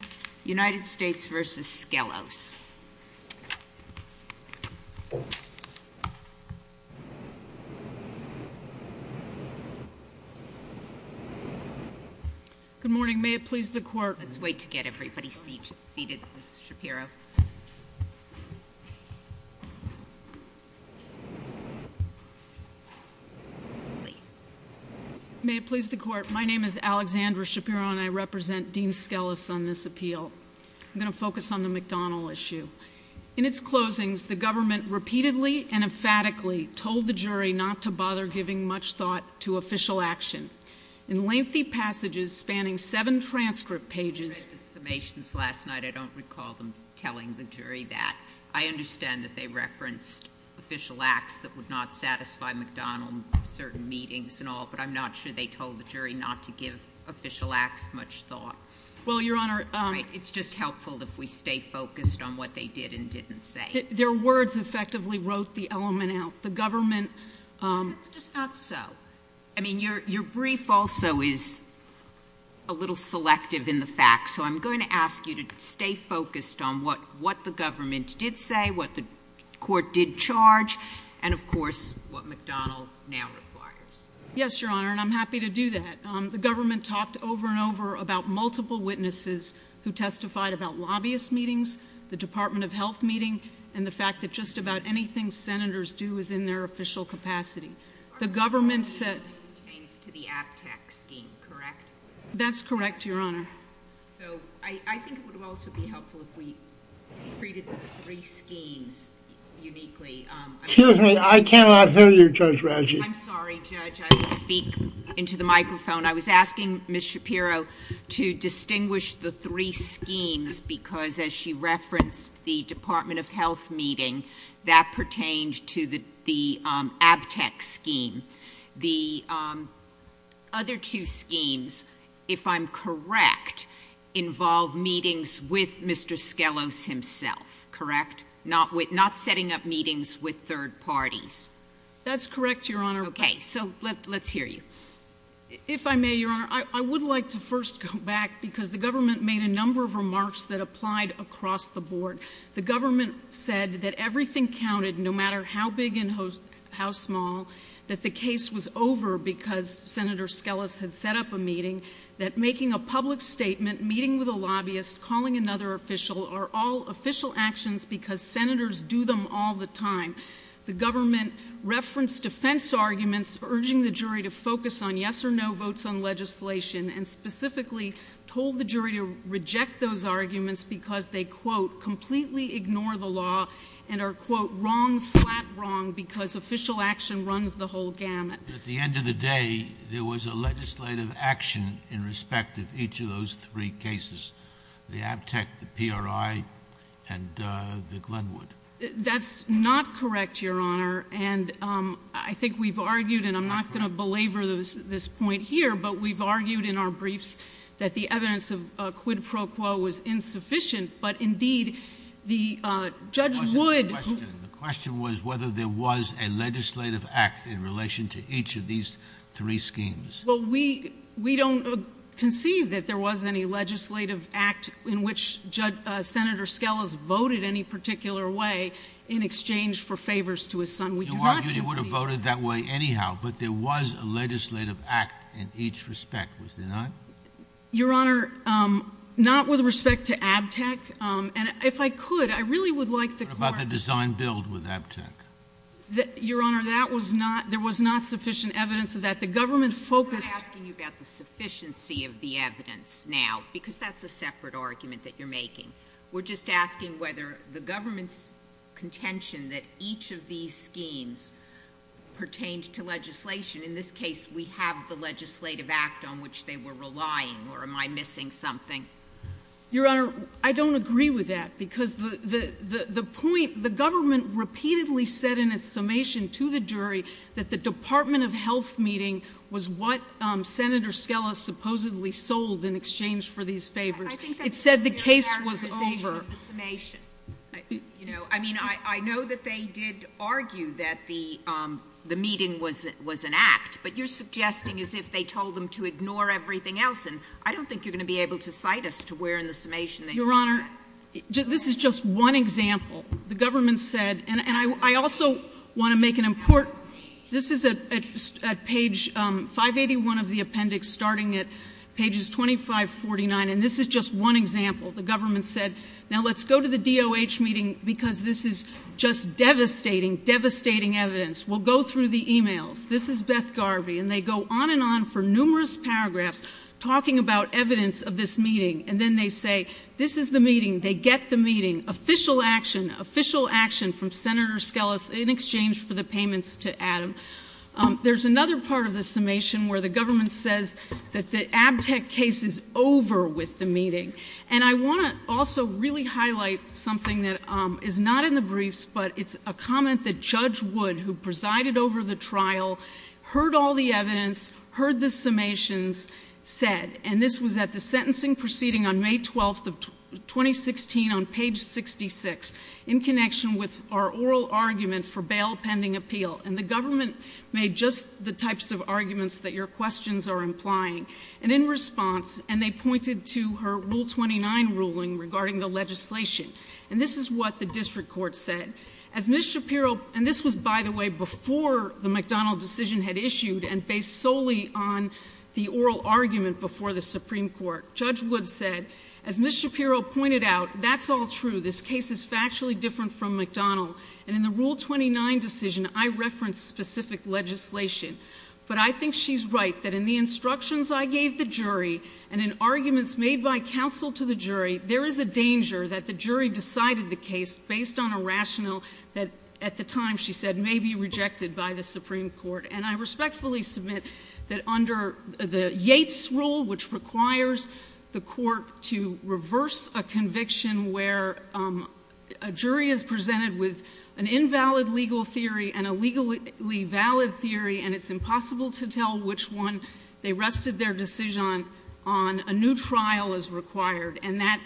Good morning, may it please the court. Let's wait to get everybody seated, Ms. Shapiro. Please. May it please the court, my name is Alexandra Shapiro and I represent Dean Skellis on this appeal. I'm going to focus on the McDonald issue. In its closings, the government repeatedly and emphatically told the jury not to bother giving much thought to official action. In lengthy passages spanning seven transcript pages. I read the summations last night, I don't recall them telling the jury that. I understand that they referenced official acts that would not satisfy McDonald in certain meetings and all. But I'm not sure they told the jury not to give official acts much thought. Well, your honor. It's just helpful if we stay focused on what they did and didn't say. Their words effectively wrote the element out. The government. That's just not so. I mean, your brief also is a little selective in the facts. So I'm going to ask you to stay focused on what the government did say, what the court did charge, and of course, what McDonald now requires. Yes, your honor, and I'm happy to do that. The government talked over and over about multiple witnesses who testified about lobbyist meetings, the Department of Health meeting, and the fact that just about anything senators do is in their official capacity. The government said- To the ABTAC scheme, correct? That's correct, your honor. So I think it would also be helpful if we treated the three schemes uniquely. Excuse me, I cannot hear you, Judge Ratchey. I'm sorry, Judge. I speak into the microphone. I was asking Ms. Shapiro to distinguish the three schemes because, as she referenced the Department of Health meeting, that pertained to the ABTAC scheme. The other two schemes, if I'm correct, involve meetings with Mr. Skelos himself, correct? Not setting up meetings with third parties. That's correct, your honor. Okay, so let's hear you. If I may, your honor, I would like to first go back because the government made a number of remarks that applied across the board. The government said that everything counted, no matter how big and how small, that the case was over because Senator Skelos had set up a meeting. That making a public statement, meeting with a lobbyist, calling another official, are all official actions because senators do them all the time. The government referenced defense arguments, urging the jury to focus on yes or no votes on legislation, and specifically told the jury to reject those arguments because they, quote, wrong, flat wrong, because official action runs the whole gamut. At the end of the day, there was a legislative action in respect of each of those three cases, the ABTAC, the PRI, and the Glenwood. That's not correct, your honor, and I think we've argued, and I'm not going to belabor this point here, but we've argued in our briefs that the evidence of quid pro quo was insufficient. But indeed, the judge would- The question was whether there was a legislative act in relation to each of these three schemes. Well, we don't conceive that there was any legislative act in which Senator Skelos voted any particular way in exchange for favors to his son. We do not conceive- You argued he would have voted that way anyhow, but there was a legislative act in each respect, was there not? Your honor, not with respect to ABTAC, and if I could, I really would like the court- What about the design build with ABTAC? Your honor, there was not sufficient evidence of that. The government focused- We're not asking you about the sufficiency of the evidence now, because that's a separate argument that you're making. We're just asking whether the government's contention that each of these schemes pertained to legislation. In this case, we have the legislative act on which they were relying, or am I missing something? Your honor, I don't agree with that, because the point, the government repeatedly said in its summation to the jury that the Department of Health meeting was what Senator Skelos supposedly sold in exchange for these favors. I think that's a re-characterization of the summation. I mean, I know that they did argue that the meeting was an act, but you're suggesting as if they told them to ignore everything else, and I don't think you're going to be able to cite us to where in the summation they said that. Your honor, this is just one example. The government said, and I also want to make an important, this is at page 581 of the appendix starting at pages 2549, and this is just one example, the government said, now let's go to the DOH meeting because this is just devastating, devastating evidence. We'll go through the emails. This is Beth Garvey, and they go on and on for numerous paragraphs talking about evidence of this meeting. And then they say, this is the meeting, they get the meeting, official action, official action from Senator Skelos in exchange for the payments to Adam. There's another part of the summation where the government says that the ABTEC case is over with the meeting. And I want to also really highlight something that is not in the briefs, but it's a comment that Judge Wood, who presided over the trial, heard all the evidence, heard the summations, said. And this was at the sentencing proceeding on May 12th of 2016 on page 66 in connection with our oral argument for bail pending appeal. And the government made just the types of arguments that your questions are implying. And in response, and they pointed to her Rule 29 ruling regarding the legislation. And this is what the district court said. As Ms. Shapiro, and this was, by the way, before the McDonald decision had issued and based solely on the oral argument before the Supreme Court. Judge Wood said, as Ms. Shapiro pointed out, that's all true. This case is factually different from McDonald. And in the Rule 29 decision, I referenced specific legislation. But I think she's right, that in the instructions I gave the jury, and in arguments made by counsel to the jury, there is a danger that the jury decided the case based on a rationale that, at the time, she said, may be rejected by the Supreme Court. And I respectfully submit that under the Yates rule, which requires the court to reverse a conviction where a jury is presented with an invalid legal theory and a legally valid theory. And it's impossible to tell which one they rested their decision on. A new trial is required, and that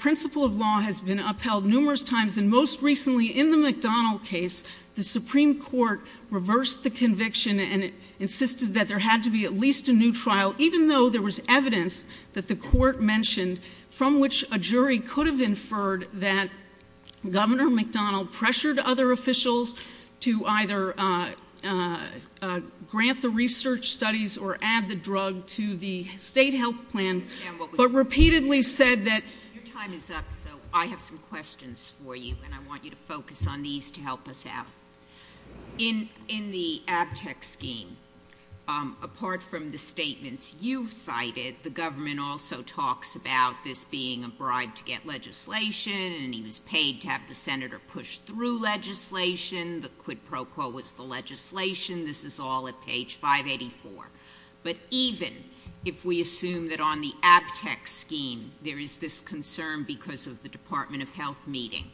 principle of law has been upheld numerous times. And most recently, in the McDonald case, the Supreme Court reversed the conviction and insisted that there had to be at least a new trial, even though there was evidence that the court mentioned from which a jury could have inferred that Governor McDonald pressured other officials to either grant the research studies or add the drug to the state health plan, but repeatedly said that- Your time is up, so I have some questions for you, and I want you to focus on these to help us out. In the ABTEC scheme, apart from the statements you've cited, the government also talks about this being a bribe to get legislation, and he was paid to have the senator push through legislation, the quid pro quo was the legislation. This is all at page 584. But even if we assume that on the ABTEC scheme, there is this concern because of the Department of Health meeting,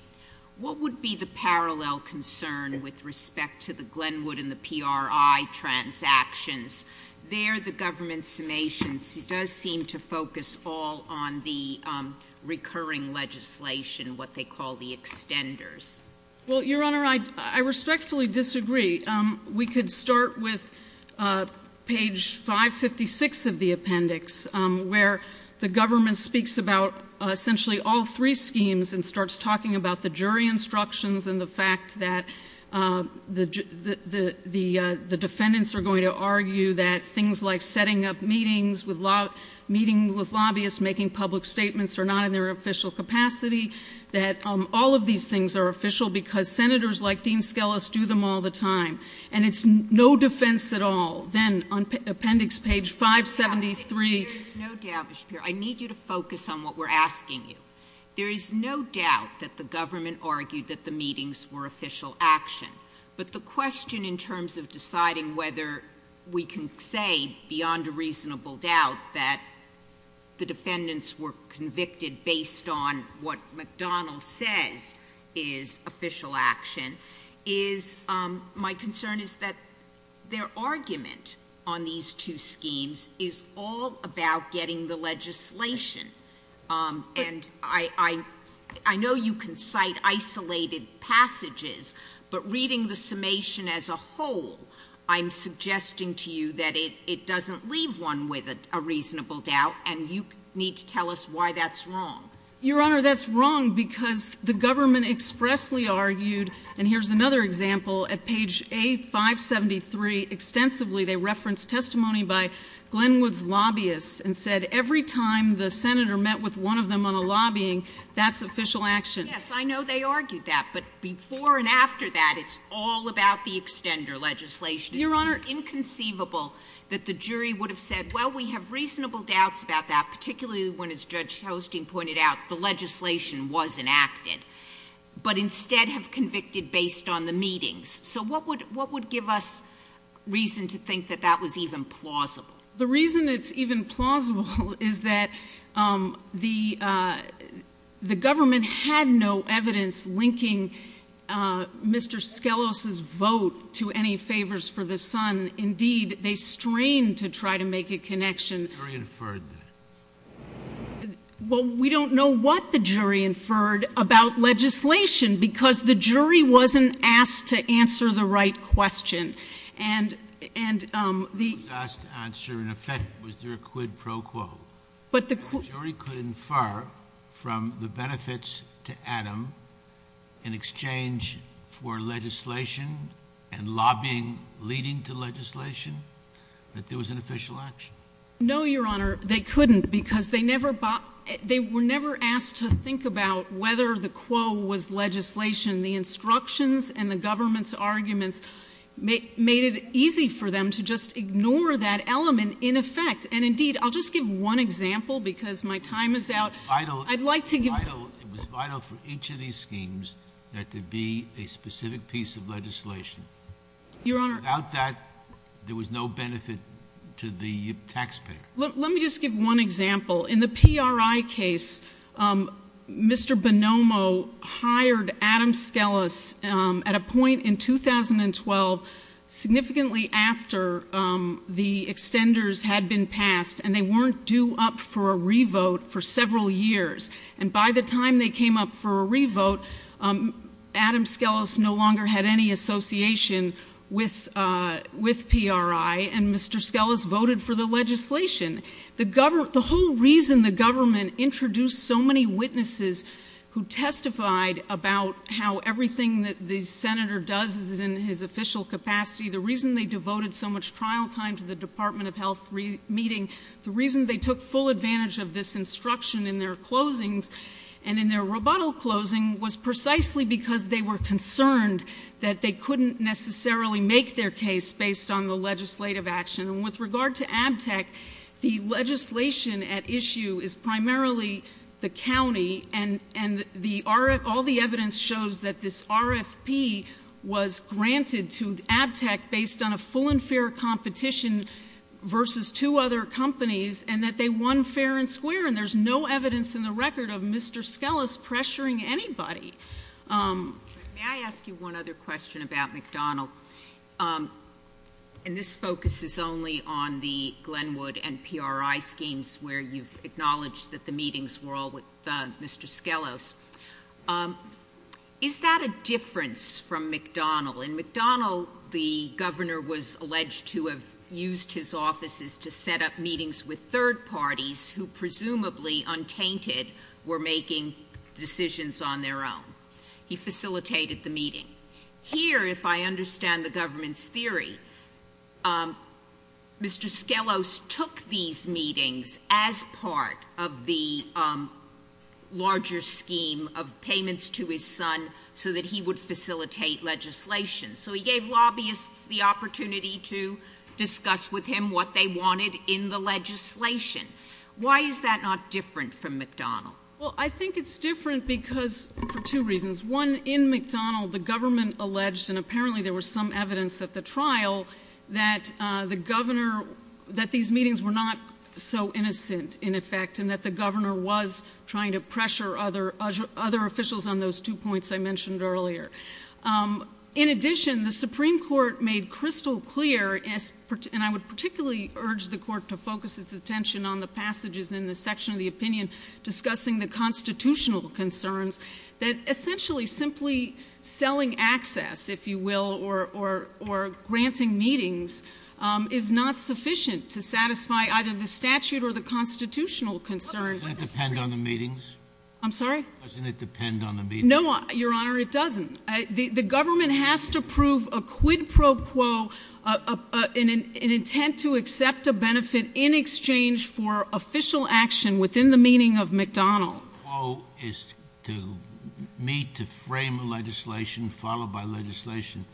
what would be the parallel concern with respect to the Glenwood and the PRI transactions? There, the government's summation does seem to focus all on the recurring legislation, what they call the extenders. Well, Your Honor, I respectfully disagree. We could start with page 556 of the appendix, where the government speaks about essentially all three schemes and starts talking about the jury instructions and the fact that the defendants are going to argue that things like setting up meetings with lobbyists, making public statements are not in their official capacity, that all of these things are official because senators like Dean Skelos do them all the time. And it's no defense at all, then, on appendix page 573- There is no doubt, Ms. Shapiro, I need you to focus on what we're asking you. There is no doubt that the government argued that the meetings were official action. But the question in terms of deciding whether we can say, beyond a reasonable doubt, that the defendants were convicted based on what McDonnell says is official action, is my concern is that their argument on these two schemes is all about getting the legislation. And I know you can cite isolated passages, but reading the summation as a whole, I'm suggesting to you that it doesn't leave one with a reasonable doubt. And you need to tell us why that's wrong. Your Honor, that's wrong because the government expressly argued, and here's another example. At page A573, extensively they referenced testimony by Glenwood's lobbyists and said every time the senator met with one of them on a lobbying, that's official action. Yes, I know they argued that, but before and after that, it's all about the extender legislation. It's inconceivable that the jury would have said, well, we have reasonable doubts about that, particularly when, as Judge Hosting pointed out, the legislation was enacted. But instead have convicted based on the meetings. So what would give us reason to think that that was even plausible? The reason it's even plausible is that the government had no evidence linking Mr. Skelos' vote to any favors for the sun. Indeed, they strained to try to make a connection. The jury inferred that. Well, we don't know what the jury inferred about legislation, because the jury wasn't asked to answer the right question. And the- Was asked to answer, in effect, was there a quid pro quo? But the qu- The jury could infer from the benefits to Adam, in exchange for legislation and lobbying leading to legislation, that there was an official action. No, Your Honor, they couldn't because they were never asked to think about whether the quo was legislation. The instructions and the government's arguments made it easy for them to just ignore that element in effect. And indeed, I'll just give one example because my time is out. I'd like to give- It was vital for each of these schemes that there be a specific piece of legislation. Your Honor- Without that, there was no benefit to the taxpayer. Let me just give one example. In the PRI case, Mr. Bonomo hired Adam Skelas at a point in 2012, significantly after the extenders had been passed, and they weren't due up for a re-vote for several years. And by the time they came up for a re-vote, Adam Skelas no longer had any association with PRI. And Mr. Skelas voted for the legislation. The whole reason the government introduced so many witnesses who testified about how everything that the Senator does is in his official capacity, the reason they devoted so much trial time to the Department of Health meeting, the reason they took full advantage of this instruction in their closings and in their rebuttal closing was precisely because they were concerned that they couldn't necessarily make their case based on the legislative action. And with regard to ABTEC, the legislation at issue is primarily the county, and all the evidence shows that this RFP was granted to ABTEC based on a full and fair competition versus two other companies, and that they won fair and square. And there's no evidence in the record of Mr. Skelas pressuring anybody. May I ask you one other question about McDonald? And this focuses only on the Glenwood and PRI schemes where you've acknowledged that the meetings were all with Mr. Skelos. Is that a difference from McDonald? In McDonald, the governor was alleged to have used his offices to set up meetings with He facilitated the meeting. Here, if I understand the government's theory, Mr. Skelos took these meetings as part of the larger scheme of payments to his son so that he would facilitate legislation. So he gave lobbyists the opportunity to discuss with him what they wanted in the legislation. Why is that not different from McDonald? Well, I think it's different because, for two reasons. One, in McDonald, the government alleged, and apparently there was some evidence at the trial, that the governor, that these meetings were not so innocent, in effect, and that the governor was trying to pressure other officials on those two points I mentioned earlier. In addition, the Supreme Court made crystal clear, and I would particularly urge the court to focus its attention on the passages in the section of the opinion, discussing the constitutional concerns, that essentially simply selling access, if you will, or granting meetings is not sufficient to satisfy either the statute or the constitutional concern. Doesn't it depend on the meetings? I'm sorry? Doesn't it depend on the meetings? No, your honor, it doesn't. The government has to prove a quid pro quo, an intent to accept a benefit in exchange for official action within the meaning of McDonald. Quo is to meet, to frame a legislation, followed by legislation.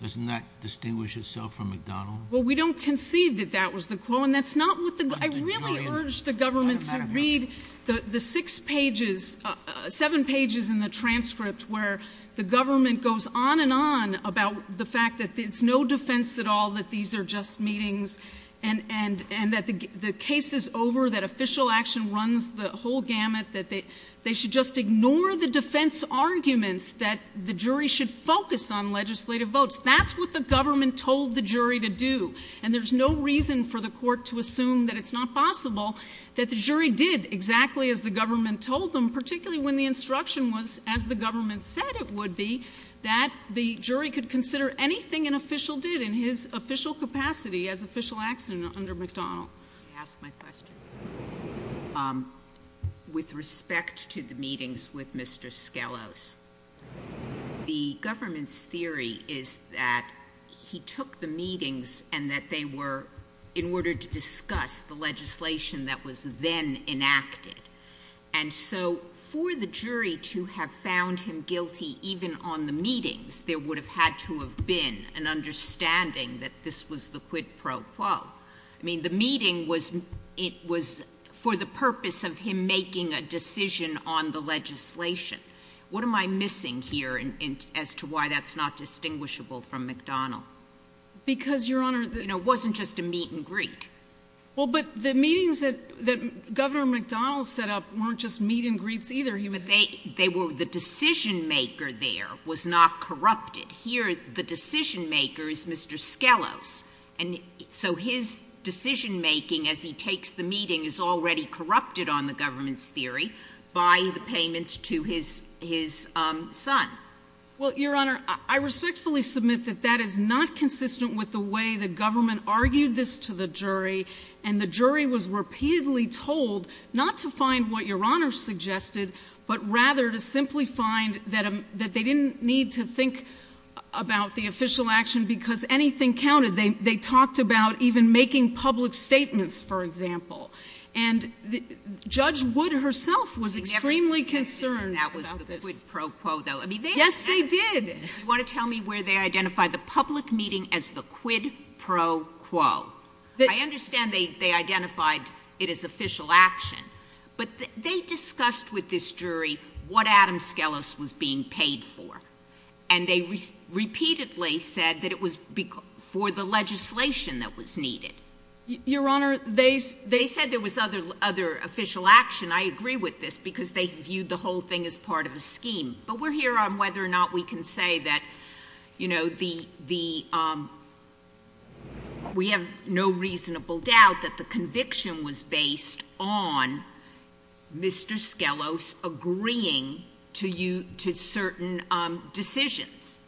Doesn't that distinguish itself from McDonald? Well, we don't concede that that was the quo, and that's not what the, I really urge the government to read the six pages, seven pages in the transcript where the government goes on and on about the fact that it's no defense at all that these are just meetings. And that the case is over, that official action runs the whole gamut, that they should just ignore the defense arguments that the jury should focus on legislative votes. That's what the government told the jury to do. And there's no reason for the court to assume that it's not possible that the jury did exactly as the government told them. Particularly when the instruction was, as the government said it would be, that the jury could consider anything an official did in his official capacity as official action under McDonald. I ask my question with respect to the meetings with Mr. Skelos, the government's theory is that he took the meetings and that they were in order to discuss the legislation that was then enacted. And so for the jury to have found him guilty even on the meetings, there would have had to have been an understanding that this was the quid pro quo. I mean, the meeting was for the purpose of him making a decision on the legislation. What am I missing here as to why that's not distinguishable from McDonald? Because, Your Honor- It wasn't just a meet and greet. Well, but the meetings that Governor McDonald set up weren't just meet and greets either. He was- They were, the decision maker there was not corrupted. Here, the decision maker is Mr. Skelos. And so his decision making as he takes the meeting is already corrupted on the government's theory. By the payment to his son. Well, Your Honor, I respectfully submit that that is not consistent with the way the government argued this to the jury. And the jury was repeatedly told not to find what Your Honor suggested, but rather to simply find that they didn't need to think about the official action because anything counted. They talked about even making public statements, for example. And Judge Wood herself was extremely concerned about this. Yes, they did. You want to tell me where they identified the public meeting as the quid pro quo? I understand they identified it as official action. But they discussed with this jury what Adam Skelos was being paid for. And they repeatedly said that it was for the legislation that was needed. Your Honor, they- They said there was other official action. I agree with this because they viewed the whole thing as part of a scheme. But we're here on whether or not we can say that we have no reasonable doubt that the conviction was based on Mr. Skelos agreeing to certain decisions.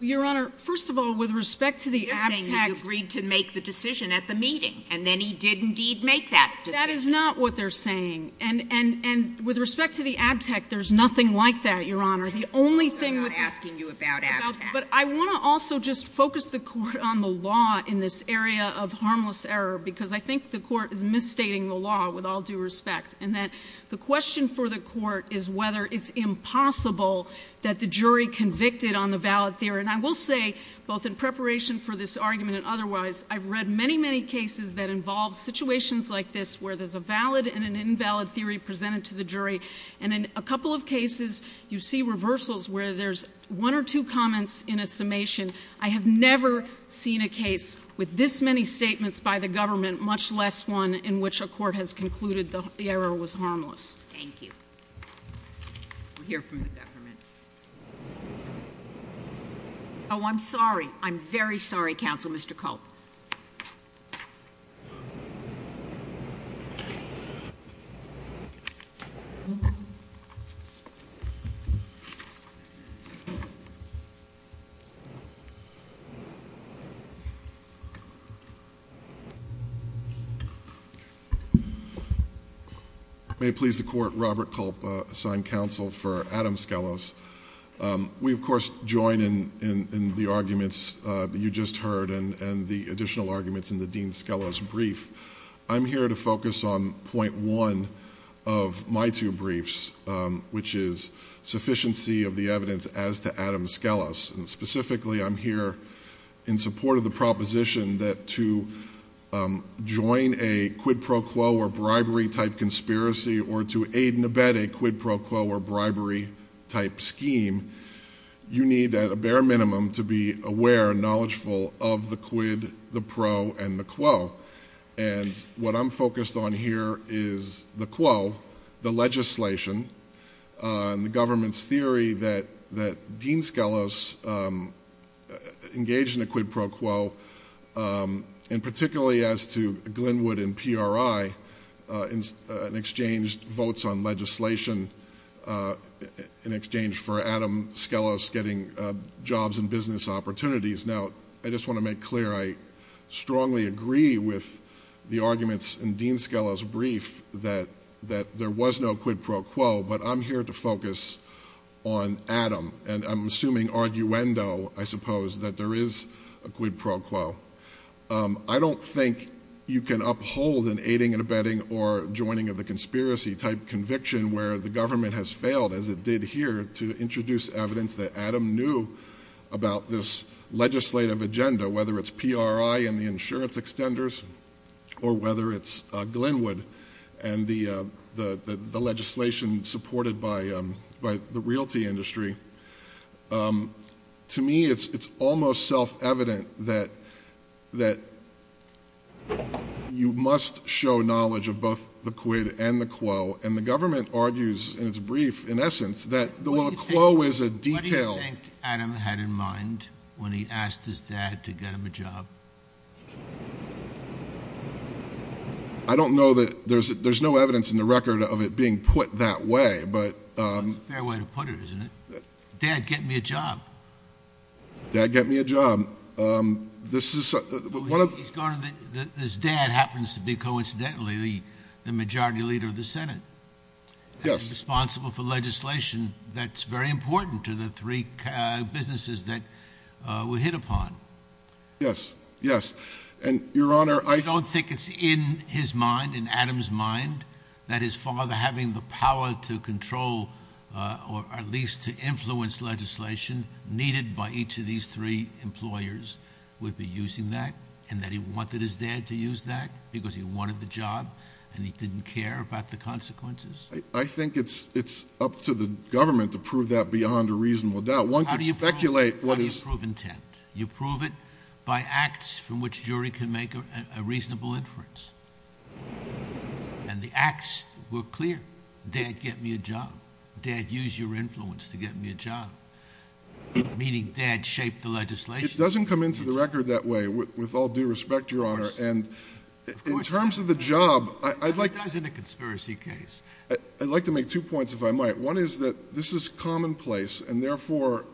Your Honor, first of all, with respect to the abtect- You're saying he agreed to make the decision at the meeting. And then he did indeed make that decision. That is not what they're saying. And with respect to the abtect, there's nothing like that, Your Honor. The only thing with- I'm not asking you about abtect. But I want to also just focus the court on the law in this area of harmless error. Because I think the court is misstating the law with all due respect. And that the question for the court is whether it's impossible that the jury convicted on the valid theory. And I will say, both in preparation for this argument and otherwise, I've read many, many cases that involve situations like this, where there's a valid and an invalid theory presented to the jury. And in a couple of cases, you see reversals where there's one or two comments in a summation. I have never seen a case with this many statements by the government, much less one in which a court has concluded the error was harmless. Thank you. We'll hear from the government. I'm sorry. I'm very sorry, Counselor. Mr. Culp. May it please the court. Robert Culp, assigned counsel for Adam Skelos. We, of course, join in the arguments you just heard and the additional arguments in the Dean Skelos brief. I'm here to focus on point one of my two briefs, which is sufficiency of the evidence as to Adam Skelos. And specifically, I'm here in support of the proposition that to join a quid pro quo or bribery type conspiracy or to aid and abet a quid pro quo or bribery type scheme. You need, at a bare minimum, to be aware and knowledgeful of the quid, the pro, and the quo. And what I'm focused on here is the quo, the legislation, and the government's theory that Dean Skelos engaged in a quid pro quo. And particularly as to Glenwood and PRI in exchange, votes on legislation in exchange for Adam Skelos getting jobs and business opportunities. Now, I just want to make clear, I strongly agree with the arguments in Dean Skelos' brief that there was no quid pro quo, but I'm here to focus on Adam. And I'm assuming arguendo, I suppose, that there is a quid pro quo. I don't think you can uphold an aiding and abetting or joining of the conspiracy type conviction, where the government has failed, as it did here, to introduce evidence that Adam knew about this legislative agenda. Whether it's PRI and the insurance extenders, or whether it's Glenwood and the legislation supported by the realty industry. To me, it's almost self-evident that you must show knowledge of both the quid and the quo. And the government argues, in its brief, in essence, that the quo is a detail- What do you think Adam had in mind when he asked his dad to get him a job? I don't know that, there's no evidence in the record of it being put that way, but- Dad, get me a job. Dad, get me a job. This is- He's going to, his dad happens to be, coincidentally, the majority leader of the Senate. Yes. And responsible for legislation that's very important to the three businesses that we hit upon. Yes, yes. And, your honor, I- I don't think it's in his mind, in Adam's mind, that his father having the power to control, or at least to influence legislation needed by each of these three employers would be using that. And that he wanted his dad to use that because he wanted the job and he didn't care about the consequences. I think it's up to the government to prove that beyond a reasonable doubt. One could speculate what is- How do you prove intent? You prove it by acts from which a jury can make a reasonable inference. And the acts were clear. Dad, get me a job. Dad, use your influence to get me a job. Meaning, dad, shape the legislation. It doesn't come into the record that way, with all due respect, your honor. And in terms of the job, I'd like- That's in a conspiracy case. I'd like to make two points, if I might. One is that this is commonplace, and therefore,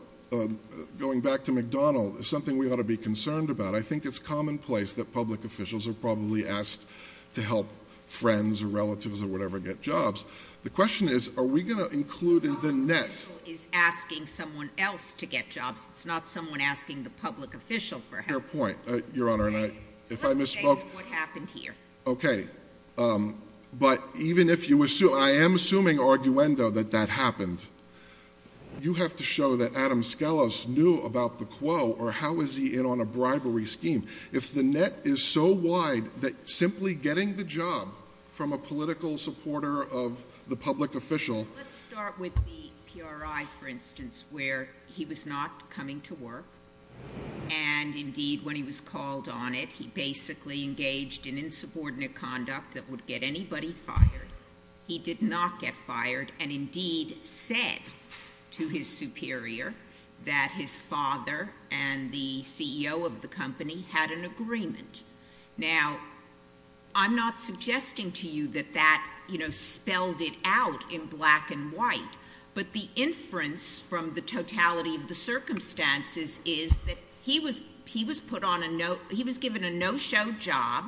going back to McDonald, is something we ought to be concerned about. But I think it's commonplace that public officials are probably asked to help friends or relatives or whatever get jobs. The question is, are we going to include in the net- The public official is asking someone else to get jobs. It's not someone asking the public official for help. Fair point, your honor. And I, if I misspoke- Let's say what happened here. Okay, but even if you assume, I am assuming arguendo that that happened. You have to show that Adam Scalise knew about the quo, or how is he in on a bribery scheme? If the net is so wide that simply getting the job from a political supporter of the public official- Let's start with the PRI, for instance, where he was not coming to work. And indeed, when he was called on it, he basically engaged in insubordinate conduct that would get anybody fired. He did not get fired, and indeed said to his superior that his father and the CEO of the company had an agreement. Now, I'm not suggesting to you that that spelled it out in black and white. But the inference from the totality of the circumstances is that he was given a no-show job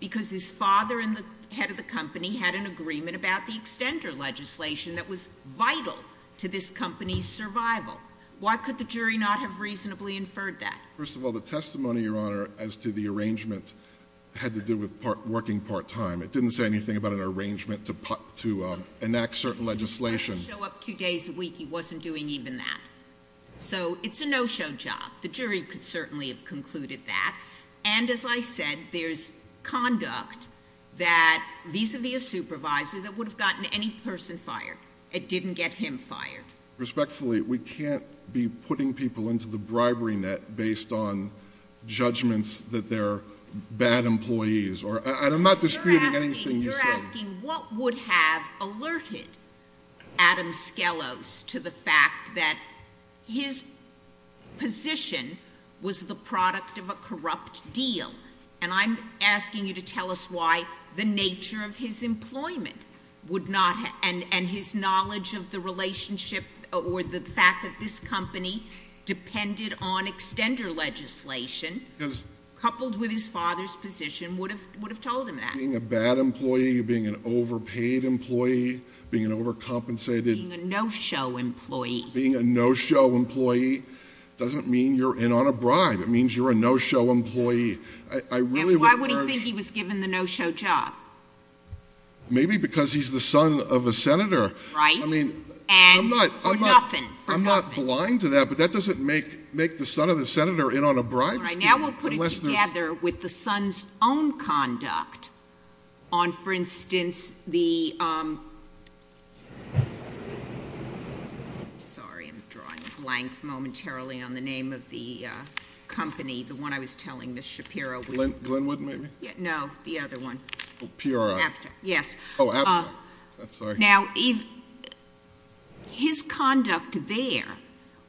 because his father and the head of the company had an agreement about the extender legislation that was vital to this company's survival. Why could the jury not have reasonably inferred that? First of all, the testimony, your honor, as to the arrangement had to do with working part time. It didn't say anything about an arrangement to enact certain legislation. He was trying to show up two days a week. He wasn't doing even that. So it's a no-show job. The jury could certainly have concluded that. And as I said, there's conduct that vis-a-vis a supervisor that would have gotten any person fired. It didn't get him fired. Respectfully, we can't be putting people into the bribery net based on judgments that they're bad employees, and I'm not disputing anything you said. You're asking what would have alerted Adam Skelos to the fact that his position was the product of a corrupt deal. And I'm asking you to tell us why the nature of his employment would not, and his knowledge of the relationship or the fact that this company depended on extender legislation, coupled with his father's position, would have told him that. Being a bad employee, being an overpaid employee, being an overcompensated- Being a no-show employee. Being a no-show employee doesn't mean you're in on a bribe. It means you're a no-show employee. I really would urge- And why would he think he was given the no-show job? Maybe because he's the son of a senator. Right. And for nothing. I'm not blind to that, but that doesn't make the son of a senator in on a bribe scheme. All right, now we'll put it together with the son's own conduct on, for instance, the I'm sorry, I'm drawing a blank momentarily on the name of the company, the one I was telling Ms. Shapiro. Glenwood, maybe? No, the other one. PRI. Yes. Now, his conduct there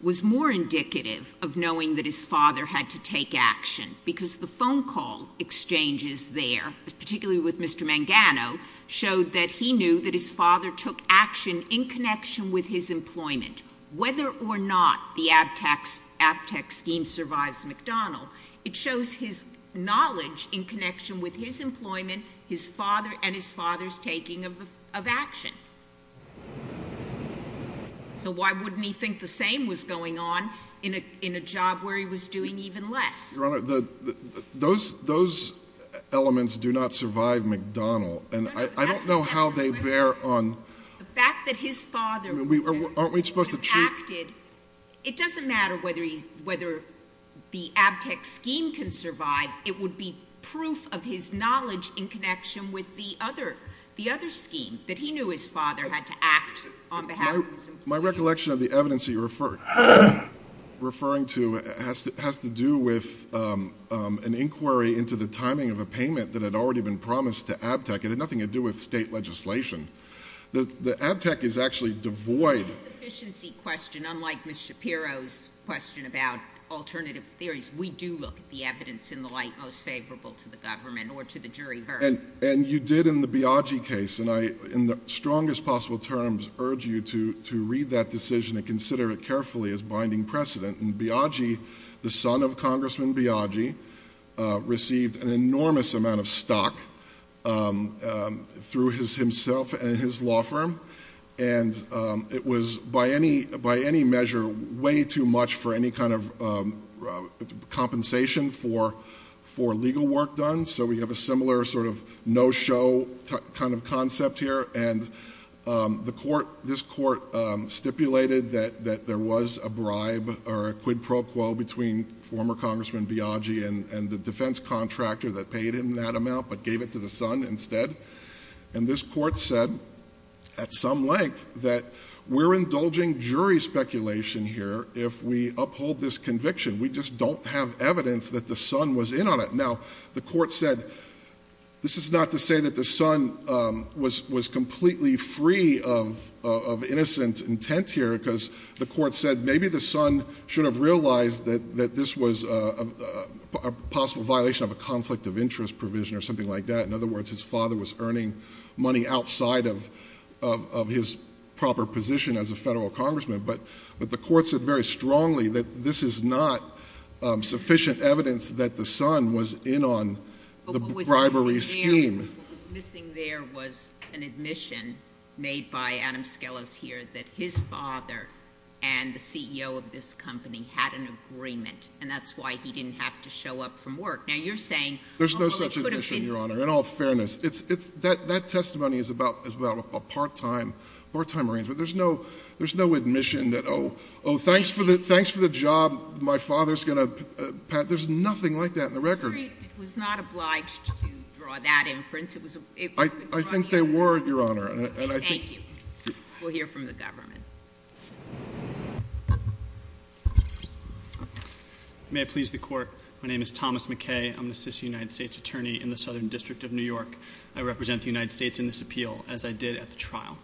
was more indicative of knowing that his father had to take action. Because the phone call exchanges there, particularly with Mr. Mangano, showed that he knew that his father took action in connection with his employment. Whether or not the ABTEC scheme survives McDonald, it shows his knowledge in connection with his employment and his father's taking of action. So why wouldn't he think the same was going on in a job where he was doing even less? Your Honor, those elements do not survive McDonald. And I don't know how they bear on. The fact that his father impacted, it doesn't matter whether the ABTEC scheme can survive. It would be proof of his knowledge in connection with the other scheme, that he knew his father had to act on behalf of his employment. My recollection of the evidence you're referring to has to do with an inquiry into the timing of a payment that had already been promised to ABTEC. It had nothing to do with state legislation. The ABTEC is actually devoid- It's a sufficiency question, unlike Ms. Shapiro's question about alternative theories. We do look at the evidence in the light most favorable to the government or to the jury verdict. And you did in the Biagi case. And I, in the strongest possible terms, urge you to read that decision and consider it carefully as binding precedent. And Biagi, the son of Congressman Biagi, received an enormous amount of stock through himself and his law firm. And it was, by any measure, way too much for any kind of compensation for legal work done. So we have a similar sort of no-show kind of concept here. And this court stipulated that there was a bribe or a quid pro quo between former Congressman Biagi and the defense contractor that paid him that amount but gave it to the son instead. And this court said, at some length, that we're indulging jury speculation here if we uphold this conviction. We just don't have evidence that the son was in on it. Now, the court said, this is not to say that the son was completely free of innocent intent here. because the court said maybe the son should have realized that this was a possible violation of a conflict of interest provision or something like that. In other words, his father was earning money outside of his proper position as a federal congressman. But the court said very strongly that this is not sufficient evidence that the son was in on the bribery scheme. What was missing there was an admission made by Adam Skelos here, that his father and the CEO of this company had an agreement. And that's why he didn't have to show up from work. Now, you're saying- There's no such admission, Your Honor, in all fairness. That testimony is about a part-time arrangement. There's no admission that, thanks for the job, my father's going to, Pat, there's nothing like that in the record. The jury was not obliged to draw that inference. I think they were, Your Honor, and I think- Thank you. We'll hear from the government. May it please the court. My name is Thomas McKay, I'm the Assistant United States Attorney in the Southern District of New York. I represent the United States in this appeal, as I did at the trial.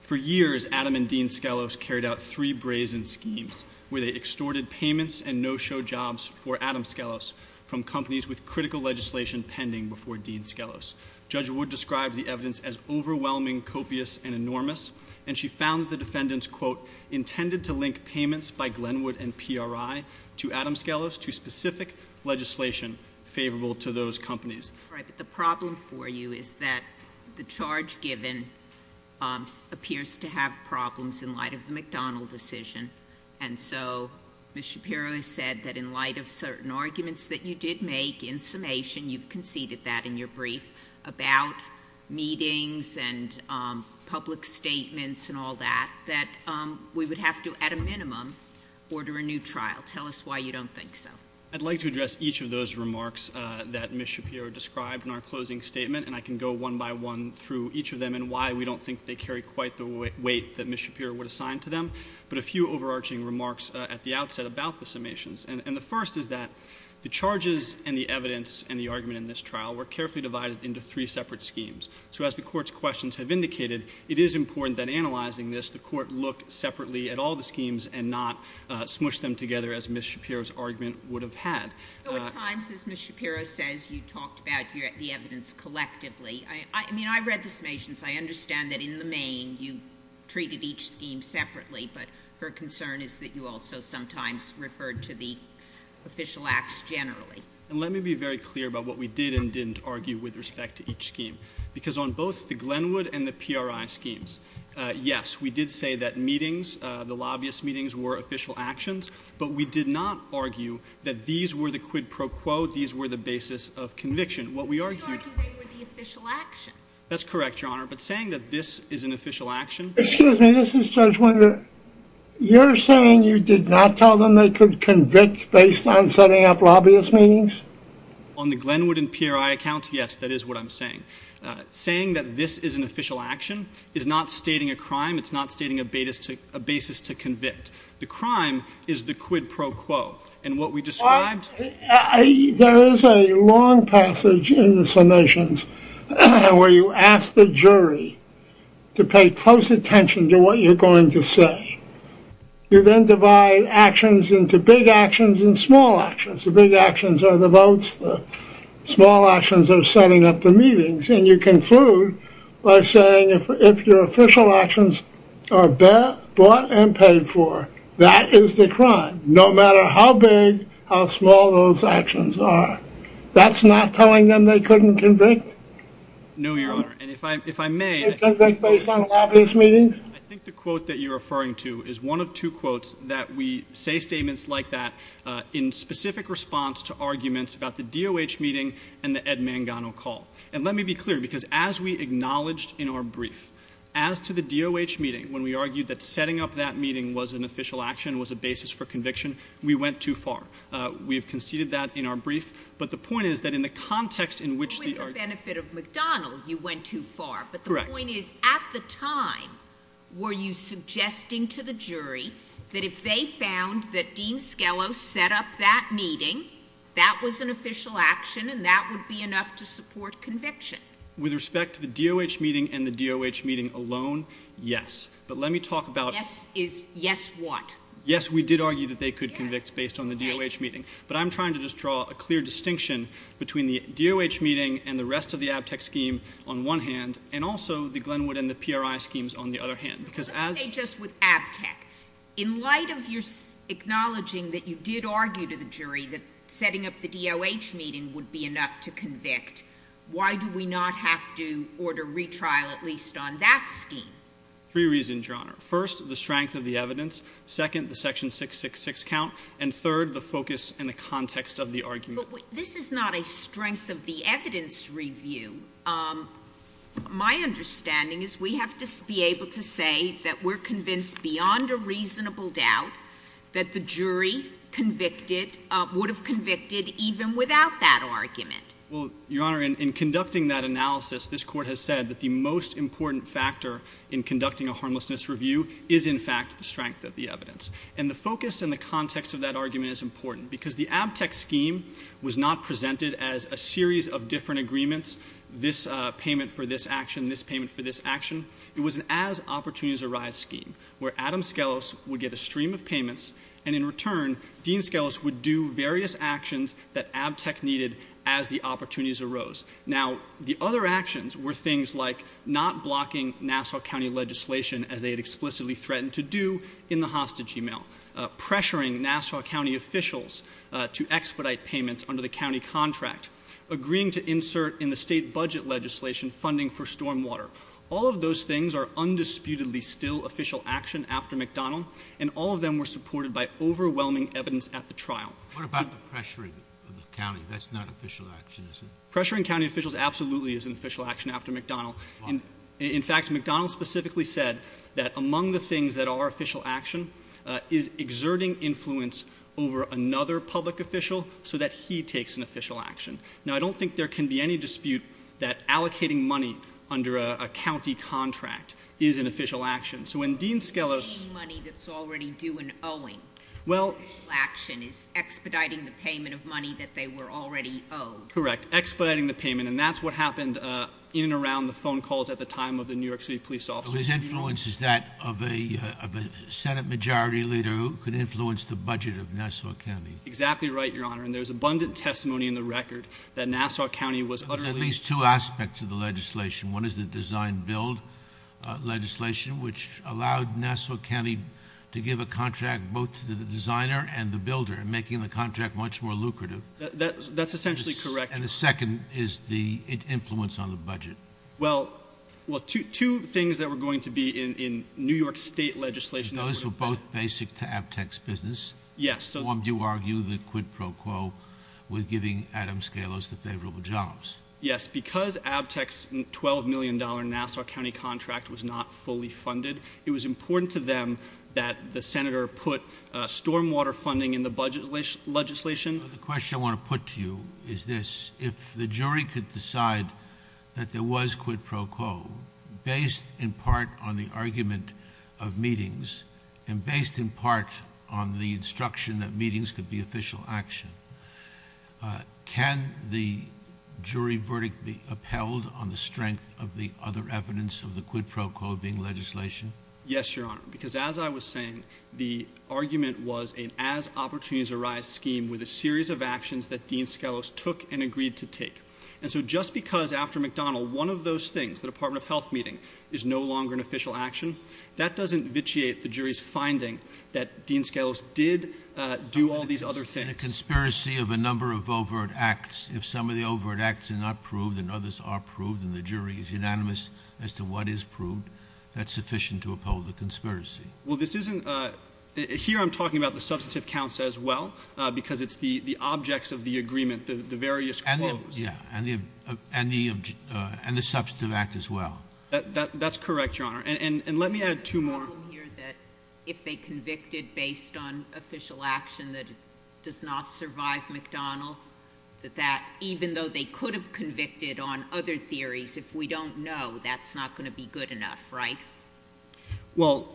For years, Adam and Dean Skelos carried out three brazen schemes, where they extorted payments and no-show jobs for Adam Skelos from companies with critical legislation pending before Dean Skelos. Judge Wood described the evidence as overwhelming, copious, and enormous. And she found the defendants, quote, intended to link payments by Glenwood and PRI to Adam Skelos to specific legislation favorable to those companies. All right, but the problem for you is that the charge given appears to have problems in light of the McDonald decision. And so, Ms. Shapiro has said that in light of certain arguments that you did make in summation, you've conceded that in your brief about meetings and public statements and all that, that we would have to, at a minimum, order a new trial. Tell us why you don't think so. I'd like to address each of those remarks that Ms. Shapiro described in our closing statement. And I can go one by one through each of them and why we don't think they carry quite the weight that Ms. Shapiro would assign to them. But a few overarching remarks at the outset about the summations. And the first is that the charges and the evidence and the argument in this trial were carefully divided into three separate schemes. So as the court's questions have indicated, it is important that analyzing this, the court look separately at all the schemes and not smush them together as Ms. Shapiro's argument would have had. So at times, as Ms. Shapiro says, you talked about the evidence collectively. I mean, I read the summations, I understand that in the main you treated each scheme separately, but her concern is that you also sometimes referred to the official acts generally. And let me be very clear about what we did and didn't argue with respect to each scheme. Because on both the Glenwood and the PRI schemes, yes, we did say that meetings, the lobbyist meetings were official actions. But we did not argue that these were the quid pro quo, these were the basis of conviction. What we argued- You argued they were the official action. That's correct, Your Honor. But saying that this is an official action- Excuse me, this is Judge Winder. You're saying you did not tell them they could convict based on setting up lobbyist meetings? On the Glenwood and PRI accounts, yes, that is what I'm saying. Saying that this is an official action is not stating a crime, it's not stating a basis to convict. The crime is the quid pro quo. And what we described- There is a long passage in the summations where you ask the jury to pay close attention to what you're going to say. You then divide actions into big actions and small actions. The big actions are the votes, the small actions are setting up the meetings. And you conclude by saying if your official actions are bought and paid for, that is the crime. No matter how big, how small those actions are. That's not telling them they couldn't convict? No, Your Honor. And if I may- They convict based on lobbyist meetings? I think the quote that you're referring to is one of two quotes that we say statements like that in specific response to arguments about the DOH meeting and the Ed Mangano call. And let me be clear, because as we acknowledged in our brief, as to the DOH meeting, when we argued that setting up that meeting was an official action, was a basis for conviction, we went too far. We have conceded that in our brief. But the point is that in the context in which the- With the benefit of McDonald, you went too far. But the point is, at the time, were you suggesting to the jury that if they found that Dean Skelos set up that meeting, that was an official action and that would be enough to support conviction? With respect to the DOH meeting and the DOH meeting alone, yes. But let me talk about- Yes is yes what? Yes, we did argue that they could convict based on the DOH meeting. But I'm trying to just draw a clear distinction between the DOH meeting and the rest of the ABTEC scheme on one hand, and also the Glenwood and the PRI schemes on the other hand. Because as- Let's say just with ABTEC. In light of your acknowledging that you did argue to the jury that setting up the DOH meeting would be enough to convict. Why do we not have to order retrial at least on that scheme? Three reasons, Your Honor. First, the strength of the evidence. Second, the section 666 count. And third, the focus and the context of the argument. But this is not a strength of the evidence review. My understanding is we have to be able to say that we're convinced beyond a reasonable doubt. That the jury convicted, would have convicted even without that argument. Well, Your Honor, in conducting that analysis, this court has said that the most important factor in conducting a harmlessness review is in fact the strength of the evidence. And the focus and the context of that argument is important. Because the ABTEC scheme was not presented as a series of different agreements. This payment for this action, this payment for this action. It was an as opportunities arise scheme. Where Adam Skelos would get a stream of payments, and in return, Dean Skelos would do various actions that ABTEC needed as the opportunities arose. Now, the other actions were things like not blocking Nassau County legislation as they had explicitly threatened to do in the hostage email. Pressuring Nassau County officials to expedite payments under the county contract. Agreeing to insert in the state budget legislation funding for storm water. All of those things are undisputedly still official action after McDonald. And all of them were supported by overwhelming evidence at the trial. What about the pressuring of the county? That's not official action, is it? Pressuring county officials absolutely isn't official action after McDonald. In fact, McDonald specifically said that among the things that are official action is exerting influence over another public official so that he takes an official action. Now, I don't think there can be any dispute that allocating money under a county contract is an official action. So when Dean Skelos- Paying money that's already due and owing. Well- Official action is expediting the payment of money that they were already owed. Correct, expediting the payment. And that's what happened in and around the phone calls at the time of the New York City police officers. So his influence is that of a Senate majority leader who could influence the budget of Nassau County. Exactly right, your honor. And there's abundant testimony in the record that Nassau County was utterly- There's at least two aspects of the legislation. One is the design build legislation, which allowed Nassau County to give a contract both to the designer and the builder, making the contract much more lucrative. That's essentially correct. And the second is the influence on the budget. Well, two things that were going to be in New York State legislation- Those were both basic to ABTEX business. Yes. Do you argue that Quid Pro Quo was giving Adam Skelos the favorable jobs? Yes, because ABTEX's $12 million Nassau County contract was not fully funded, it was important to them that the Senator put stormwater funding in the budget legislation. The question I want to put to you is this. If the jury could decide that there was Quid Pro Quo, based in part on the argument of meetings, and based in part on the instruction that meetings could be official action, can the jury verdict be upheld on the strength of the other evidence of the Quid Pro Quo being legislation? Yes, Your Honor, because as I was saying, the argument was an as opportunities arise scheme with a series of actions that Dean Skelos took and agreed to take. And so just because after McDonald, one of those things, the Department of Health meeting, is no longer an official action, that doesn't vitiate the jury's finding that Dean Skelos did do all these other things. In a conspiracy of a number of overt acts, if some of the overt acts are not proved and others are proved, and the jury is unanimous as to what is proved, that's sufficient to uphold the conspiracy. Well, this isn't, here I'm talking about the substantive counts as well, because it's the objects of the agreement, the various quotes. Yeah, and the substantive act as well. That's correct, Your Honor. And let me add two more. Here that if they convicted based on official action that does not survive McDonald, that even though they could have convicted on other theories, if we don't know, that's not going to be good enough, right? Well,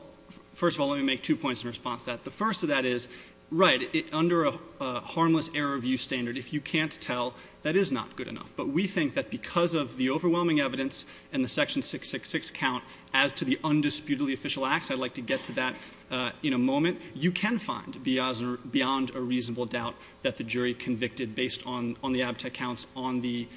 first of all, let me make two points in response to that. The first of that is, right, under a harmless error of use standard, if you can't tell, that is not good enough. But we think that because of the overwhelming evidence and the section 666 count as to the undisputedly official acts, I'd like to get to that in a moment, you can find beyond a reasonable doubt that the jury convicted based on the abtex counts, on the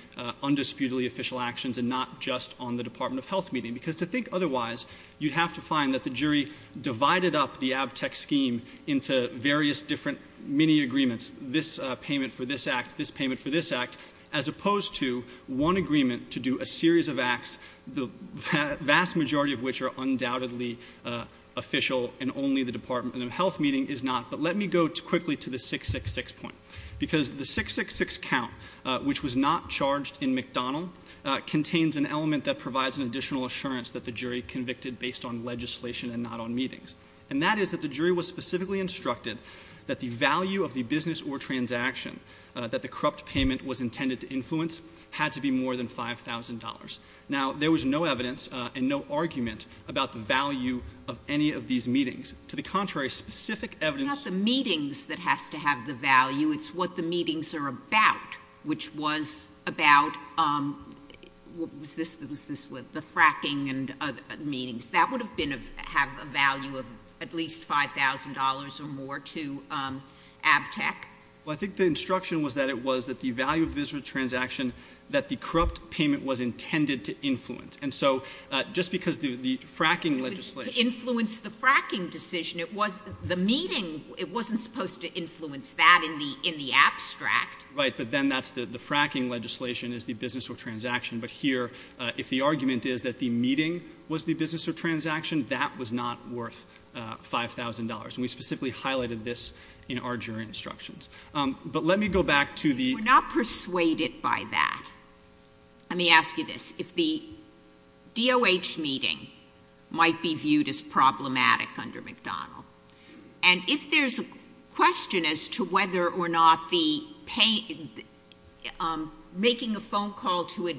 undisputedly official actions, and not just on the Department of Health meeting. Because to think otherwise, you'd have to find that the jury divided up the abtex scheme into various different mini agreements. This payment for this act, this payment for this act, as opposed to one agreement to do a series of acts, the vast majority of which are undoubtedly official and only the Department of Health meeting is not. But let me go quickly to the 666 point. Because the 666 count, which was not charged in McDonald, contains an element that provides an additional assurance that the jury convicted based on legislation and not on meetings. And that is that the jury was specifically instructed that the value of the business or transaction that the corrupt payment was intended to influence had to be more than $5,000. Now, there was no evidence and no argument about the value of any of these meetings. To the contrary, specific evidence- It's not the meetings that has to have the value, it's what the meetings are about. Which was about, what was this, the fracking and meetings. That would have been of, have a value of at least $5,000 or more to abtex. Well, I think the instruction was that it was that the value of business or transaction that the corrupt payment was intended to influence. And so, just because the fracking legislation- To influence the fracking decision. It was the meeting, it wasn't supposed to influence that in the abstract. Right, but then that's the fracking legislation is the business or transaction. But here, if the argument is that the meeting was the business or transaction, that was not worth $5,000. And we specifically highlighted this in our jury instructions. But let me go back to the- We're not persuaded by that. Let me ask you this. If the DOH meeting might be viewed as problematic under McDonald. And if there's a question as to whether or not the making a phone call to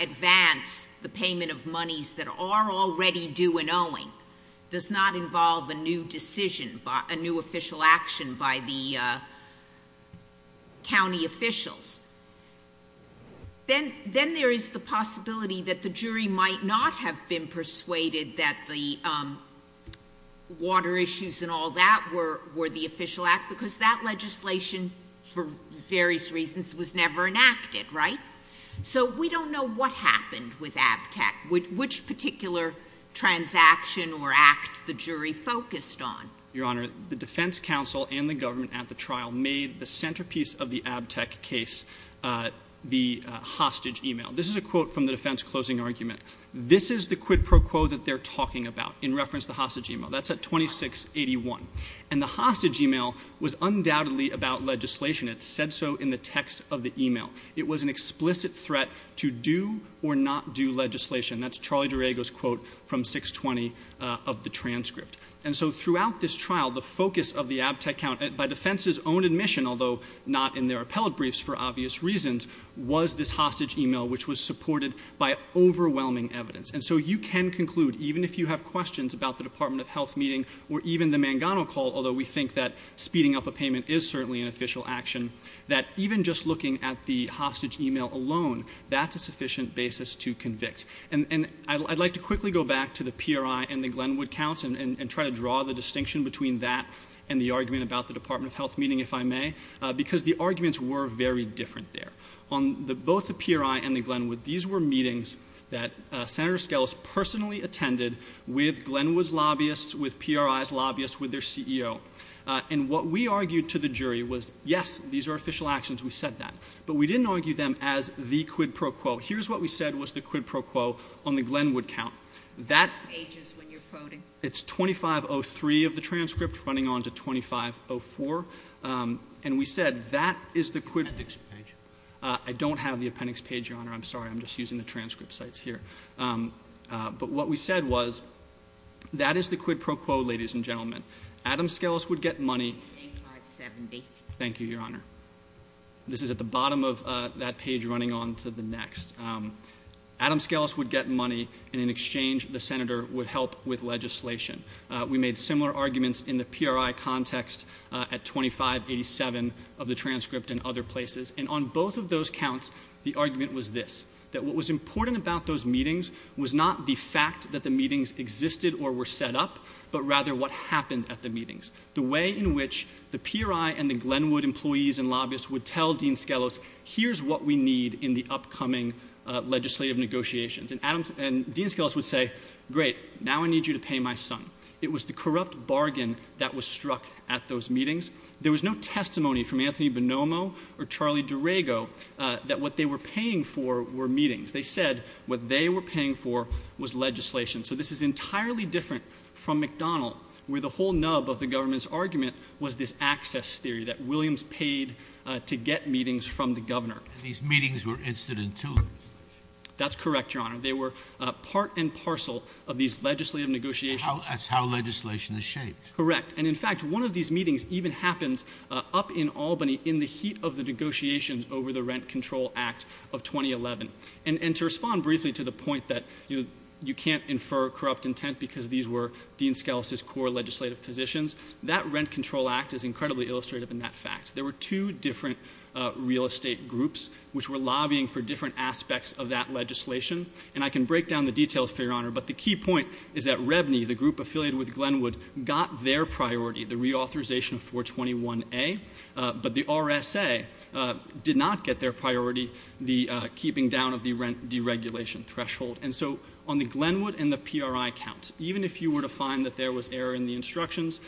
advance the payment of monies that are already due and ongoing does not involve a new decision, a new official action by the county officials. Then there is the possibility that the jury might not have been persuaded that the water issues and all that were the official act because that legislation, for various reasons, was never enacted, right? So we don't know what happened with ABTEC, which particular transaction or act the jury focused on. Your Honor, the defense counsel and the government at the trial made the centerpiece of the ABTEC case the hostage email. This is a quote from the defense closing argument. This is the quid pro quo that they're talking about in reference to hostage email. That's at 2681. And the hostage email was undoubtedly about legislation. It said so in the text of the email. It was an explicit threat to do or not do legislation. That's Charlie Durego's quote from 620 of the transcript. And so throughout this trial, the focus of the ABTEC count, by defense's own admission, although not in their appellate briefs for obvious reasons, was this hostage email, which was supported by overwhelming evidence. And so you can conclude, even if you have questions about the Department of Health meeting or even the Mangano call, although we think that speeding up a payment is certainly an official action, that even just looking at the hostage email alone, that's a sufficient basis to convict. And I'd like to quickly go back to the PRI and the Glenwood counts and try to draw the distinction between that and the argument about the Department of Health meeting, if I may, because the arguments were very different there. On both the PRI and the Glenwood, these were meetings that Senator Skelos personally attended with Glenwood's lobbyists, with PRI's lobbyists, with their CEO. And what we argued to the jury was, yes, these are official actions, we said that. But we didn't argue them as the quid pro quo. Here's what we said was the quid pro quo on the Glenwood count. That- Pages when you're quoting. It's 2503 of the transcript running on to 2504, and we said that is the quid- Appendix page. I don't have the appendix page, Your Honor. I'm sorry, I'm just using the transcript sites here. But what we said was, that is the quid pro quo, ladies and gentlemen. Adam Skelos would get money- 8570. Thank you, Your Honor. This is at the bottom of that page running on to the next. Adam Skelos would get money, and in exchange, the Senator would help with legislation. We made similar arguments in the PRI context at 2587 of the transcript and other places. And on both of those counts, the argument was this, that what was important about those meetings was not the fact that the meetings existed or were set up, but rather what happened at the meetings. The way in which the PRI and the Glenwood employees and lobbyists would tell Dean Skelos, here's what we need in the upcoming legislative negotiations. And Dean Skelos would say, great, now I need you to pay my son. It was the corrupt bargain that was struck at those meetings. There was no testimony from Anthony Bonomo or Charlie Durego that what they were paying for were meetings. They said what they were paying for was legislation. So this is entirely different from McDonald, where the whole nub of the government's argument was this access theory that Williams paid to get meetings from the governor. These meetings were instant in tune. That's correct, Your Honor. They were part and parcel of these legislative negotiations. That's how legislation is shaped. Correct. And in fact, one of these meetings even happens up in Albany in the heat of the negotiations over the Rent Control Act of 2011. And to respond briefly to the point that you can't infer corrupt intent because these were Dean Skelos' core legislative positions. That Rent Control Act is incredibly illustrative in that fact. There were two different real estate groups which were lobbying for different aspects of that legislation. And I can break down the details for you, Your Honor. But the key point is that REBNY, the group affiliated with Glenwood, got their priority, the reauthorization of 421A. But the RSA did not get their priority, the keeping down of the rent deregulation threshold. And so on the Glenwood and the PRI counts, even if you were to find that there was error in the instructions,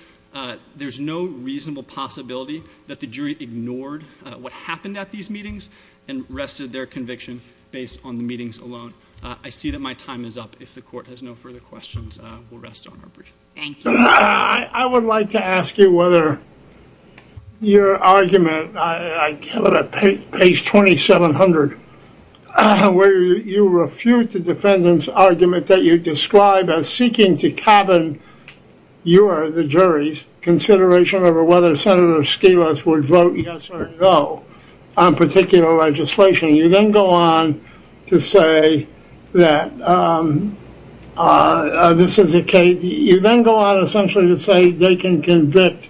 there's no reasonable possibility that the jury ignored what happened at these meetings and rested their conviction based on the meetings alone. I see that my time is up. If the court has no further questions, we'll rest on our brief. Thank you. I would like to ask you whether your argument, I have it at page 2700, where you refute the defendant's argument that you describe as seeking to cabin. You are the jury's consideration over whether Senator Skelos would vote yes or no on particular legislation. You then go on to say that this is a case, you then go on essentially to say they can convict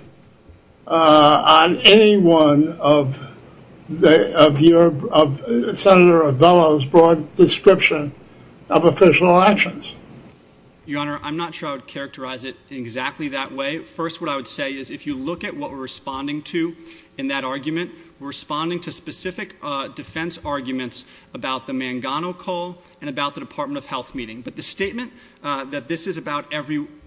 on any one of Senator Avella's broad description of official actions. Your Honor, I'm not sure I would characterize it exactly that way. First, what I would say is if you look at what we're responding to in that argument, we're responding to specific defense arguments about the Mangano call and about the Department of Health meeting. But the statement that this is about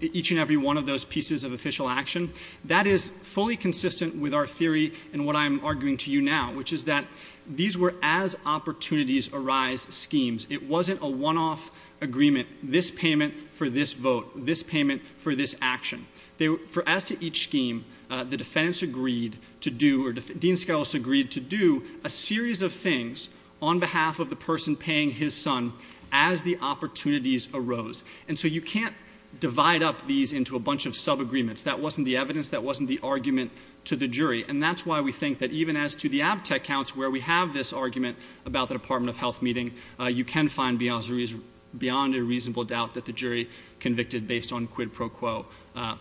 each and every one of those pieces of official action, that is fully consistent with our theory and what I'm arguing to you now, which is that these were as opportunities arise schemes. It wasn't a one-off agreement, this payment for this vote, this payment for this action. As to each scheme, the defense agreed to do, or Dean Skelos agreed to do, a series of things on behalf of the person paying his son as the opportunities arose. And so you can't divide up these into a bunch of sub-agreements. That wasn't the evidence, that wasn't the argument to the jury. And that's why we think that even as to the abtec counts where we have this argument about the Department of Health meeting, you can find beyond a reasonable doubt that the jury convicted based on quid pro quo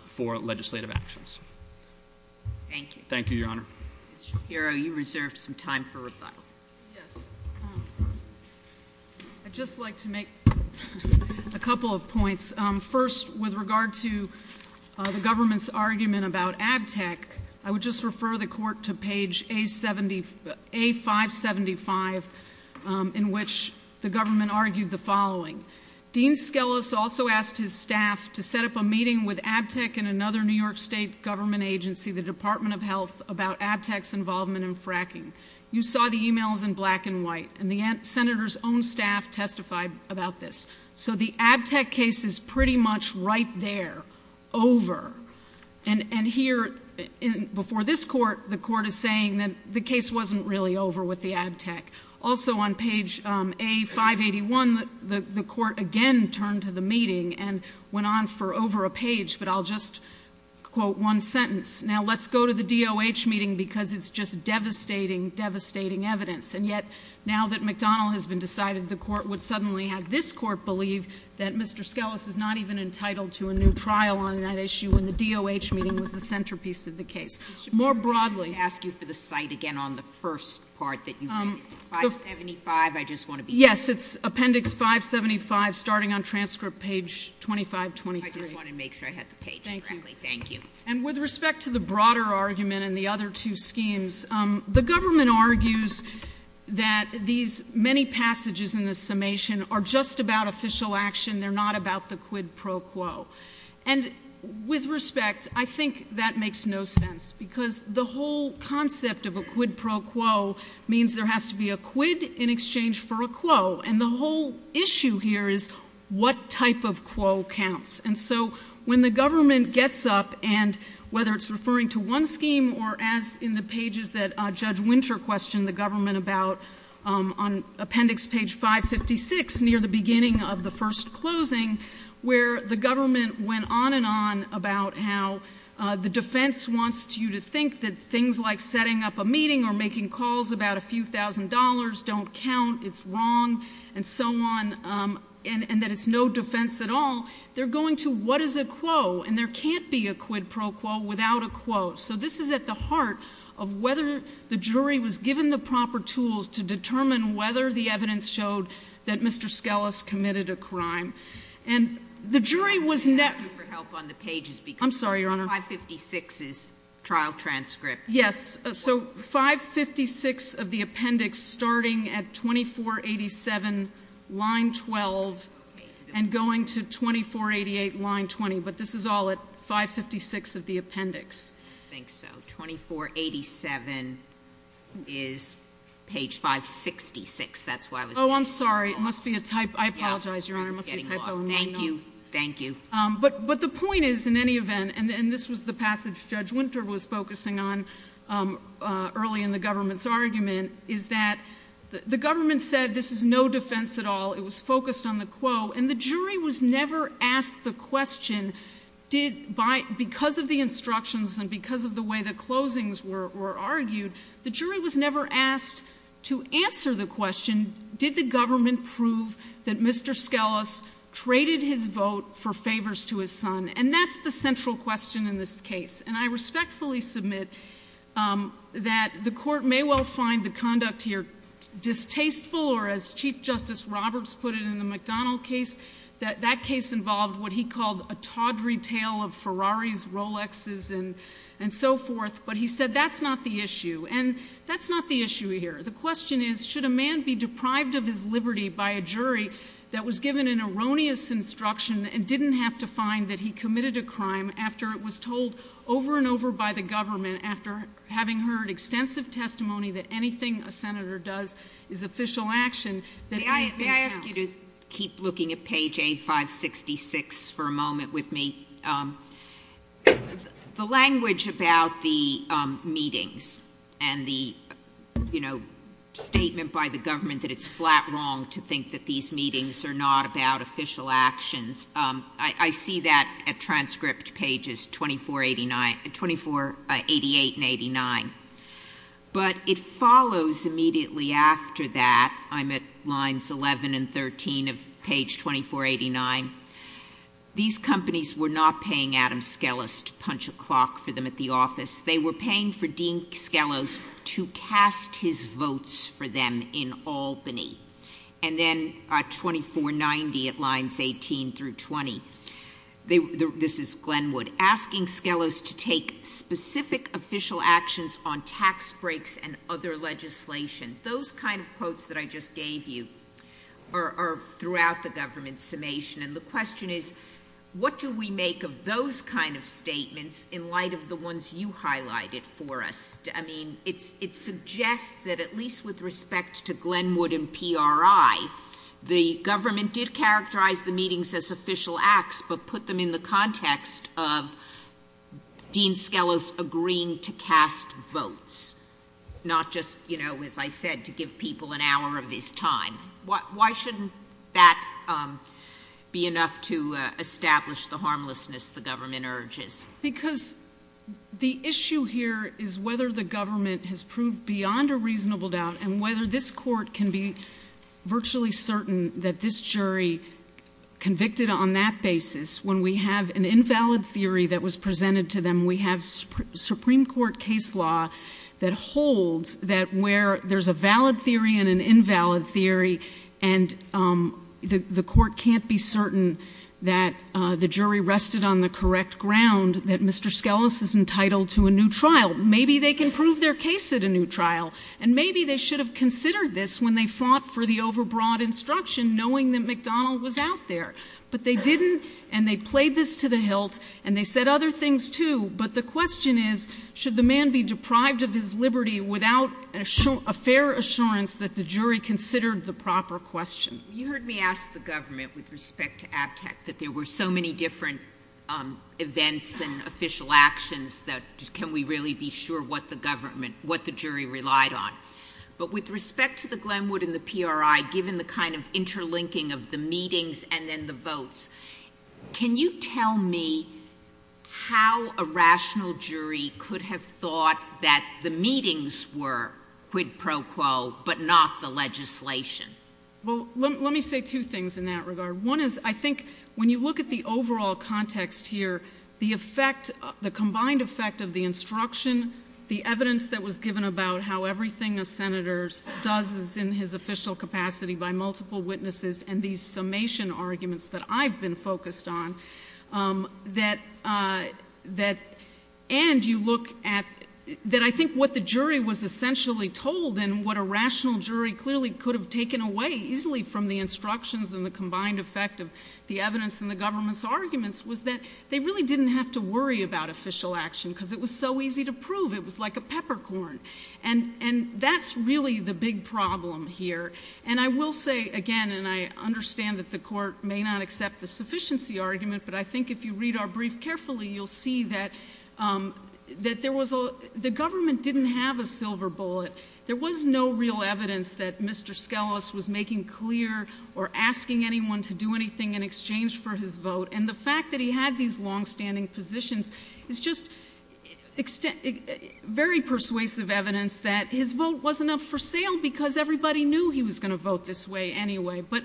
for legislative actions. Thank you. Thank you, Your Honor. Mr. Shapiro, you reserved some time for rebuttal. Yes. I'd just like to make a couple of points. First, with regard to the government's argument about abtec, I would just refer the court to page A575, in which the government argued the following. Dean Skelos also asked his staff to set up a meeting with abtec and another New York State government agency, the Department of Health, about abtec's involvement in fracking. You saw the emails in black and white, and the senator's own staff testified about this. So the abtec case is pretty much right there, over. And here, before this court, the court is saying that the case wasn't really over with the abtec. Also on page A581, the court again turned to the meeting and went on for over a page, but I'll just quote one sentence. Now let's go to the DOH meeting because it's just devastating, devastating evidence. And yet, now that McDonald has been decided, the court would suddenly have this court believe that Mr. McDonald, in the DOH meeting, was the centerpiece of the case. More broadly- I ask you for the site again on the first part that you raised, 575, I just want to be- Yes, it's appendix 575, starting on transcript page 2523. I just wanted to make sure I had the page correctly, thank you. And with respect to the broader argument and the other two schemes, the government argues that these many passages in the summation are just about official action. They're not about the quid pro quo. And with respect, I think that makes no sense because the whole concept of a quid pro quo means there has to be a quid in exchange for a quo, and the whole issue here is what type of quo counts. And so when the government gets up, and whether it's referring to one scheme or as in the pages that Judge Winter questioned the government about on appendix page 556, near the beginning of the first closing, where the government went on and on about how the defense wants you to think that things like setting up a meeting or making calls about a few thousand dollars don't count, it's wrong, and so on, and that it's no defense at all. They're going to what is a quo, and there can't be a quid pro quo without a quo. So this is at the heart of whether the jury was given the proper tools to determine whether the evidence showed that Mr. Skelos committed a crime. And the jury was- I'm asking for help on the pages because- I'm sorry, Your Honor. 556 is trial transcript. Yes, so 556 of the appendix starting at 2487, line 12, and going to 2488, line 20. But this is all at 556 of the appendix. I think so. 2487 is page 566, that's why I was- I'm sorry, it must be a typo. I apologize, Your Honor, it must be a typo. Thank you, thank you. But the point is, in any event, and this was the passage Judge Winter was focusing on early in the government's argument, is that the government said this is no defense at all. It was focused on the quo, and the jury was never asked the question, because of the instructions and because of the way the closings were argued, the jury was never asked to answer the question, did the government prove that Mr. Skelos traded his vote for favors to his son? And that's the central question in this case. And I respectfully submit that the court may well find the conduct here distasteful or as Chief Justice Roberts put it in the McDonald case, that that case involved what he called a tawdry tale of Ferraris, Rolexes, and so forth. But he said that's not the issue, and that's not the issue here. The question is, should a man be deprived of his liberty by a jury that was given an erroneous instruction and didn't have to find that he committed a crime after it was told over and over by the government, after having heard extensive testimony that anything a senator does is official action. May I ask you to keep looking at page 8566 for a moment with me. The language about the meetings and the statement by the government that it's flat wrong to think that these meetings are not about official actions. I see that at transcript pages 2488 and 89. But it follows immediately after that, I'm at lines 11 and 13 of page 2489. These companies were not paying Adam Skelos to punch a clock for them at the office. They were paying for Dean Skelos to cast his votes for them in Albany. And then at 2490 at lines 18 through 20, this is Glenwood, asking Skelos to take specific official actions on tax breaks and other legislation. Those kind of quotes that I just gave you are throughout the government's summation. And the question is, what do we make of those kind of statements in light of the ones you highlighted for us? I mean, it suggests that at least with respect to Glenwood and PRI, the government did characterize the meetings as official acts, but put them in the context of Dean Skelos agreeing to cast votes. Not just, as I said, to give people an hour of his time. Why shouldn't that be enough to establish the harmlessness the government urges? Because the issue here is whether the government has proved beyond a reasonable doubt and whether this court can be virtually certain that this jury convicted on that basis. When we have an invalid theory that was presented to them, we have Supreme Court case law that holds that where there's a valid theory and an invalid theory. And the court can't be certain that the jury rested on the correct ground, that Mr. Skelos is entitled to a new trial, maybe they can prove their case at a new trial. And maybe they should have considered this when they fought for the overbroad instruction, knowing that McDonald was out there. But they didn't, and they played this to the hilt, and they said other things too. But the question is, should the man be deprived of his liberty without a fair assurance that the jury considered the proper question? You heard me ask the government with respect to ABTEC that there were so many different events and But with respect to the Glenwood and the PRI, given the kind of interlinking of the meetings and then the votes, can you tell me how a rational jury could have thought that the meetings were quid pro quo, but not the legislation? Well, let me say two things in that regard. One is, I think, when you look at the overall context here, the effect, the combined effect of the instruction, the evidence that was given about how everything a senator does is in his official capacity by multiple witnesses, and these summation arguments that I've been focused on. And you look at, that I think what the jury was essentially told and what a rational jury clearly could have taken away easily from the instructions and the combined effect of the evidence in the government's arguments was that they really didn't have to worry about official action, because it was so easy to prove, it was like a peppercorn, and that's really the big problem here. And I will say again, and I understand that the court may not accept the sufficiency argument, but I think if you read our brief carefully, you'll see that the government didn't have a silver bullet. There was no real evidence that Mr. Skelos was making clear or asking anyone to do anything in exchange for his vote. And the fact that he had these longstanding positions is just very persuasive evidence that his vote wasn't up for sale because everybody knew he was going to vote this way anyway. But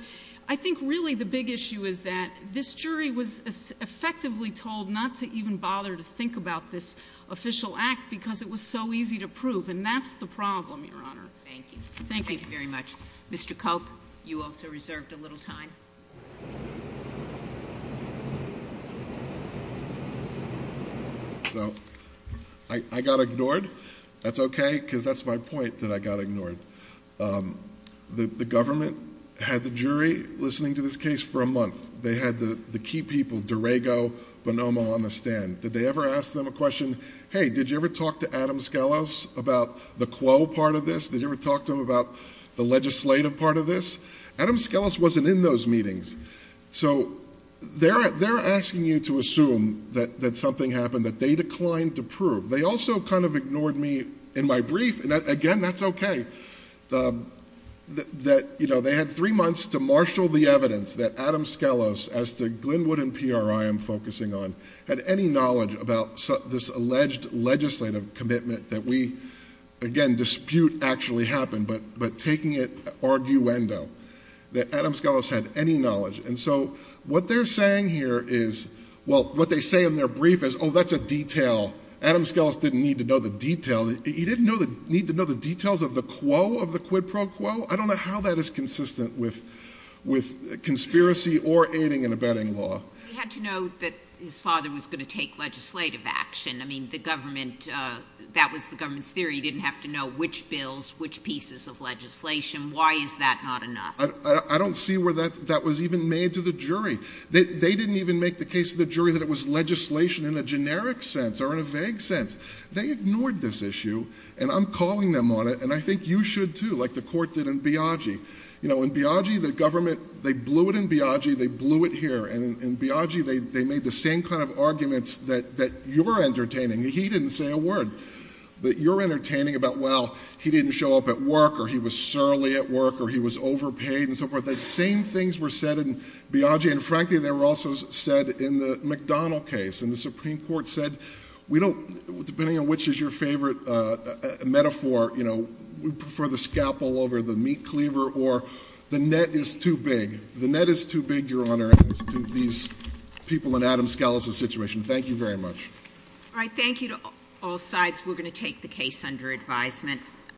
I think really the big issue is that this jury was effectively told not to even bother to think about this official act because it was so easy to prove, and that's the problem, Your Honor. Thank you. Thank you. Thank you very much. Mr. Culp, you also reserved a little time. So, I got ignored. That's okay, because that's my point that I got ignored. The government had the jury listening to this case for a month. They had the key people, Derego, Bonomo on the stand. Did they ever ask them a question, hey, did you ever talk to Adam Skelos about the quo part of this? Did you ever talk to him about the legislative part of this? Adam Skelos wasn't in those meetings. So, they're asking you to assume that something happened, that they declined to prove. They also kind of ignored me in my brief, and again, that's okay. That they had three months to marshal the evidence that Adam Skelos, as to Glenwood and College about this alleged legislative commitment that we, again, dispute actually happened. But taking it arguendo, that Adam Skelos had any knowledge. And so, what they're saying here is, well, what they say in their brief is, that's a detail. Adam Skelos didn't need to know the detail. He didn't need to know the details of the quo of the quid pro quo. I don't know how that is consistent with conspiracy or aiding and abetting law. He had to know that his father was going to take legislative action. I mean, that was the government's theory. He didn't have to know which bills, which pieces of legislation. Why is that not enough? I don't see where that was even made to the jury. They didn't even make the case to the jury that it was legislation in a generic sense or in a vague sense. They ignored this issue, and I'm calling them on it, and I think you should too, like the court did in Biagi. In Biagi, the government, they blew it in Biagi, they blew it here. And in Biagi, they made the same kind of arguments that you're entertaining. He didn't say a word that you're entertaining about, well, he didn't show up at work, or he was surly at work, or he was overpaid, and so forth. The same things were said in Biagi, and frankly, they were also said in the McDonald case. And the Supreme Court said, depending on which is your favorite metaphor, we prefer the scalpel over the meat cleaver, or the net is too big. The net is too big, Your Honor, as to these people in Adam Scalise's situation. Thank you very much. All right, thank you to all sides. We're going to take the case under advisement.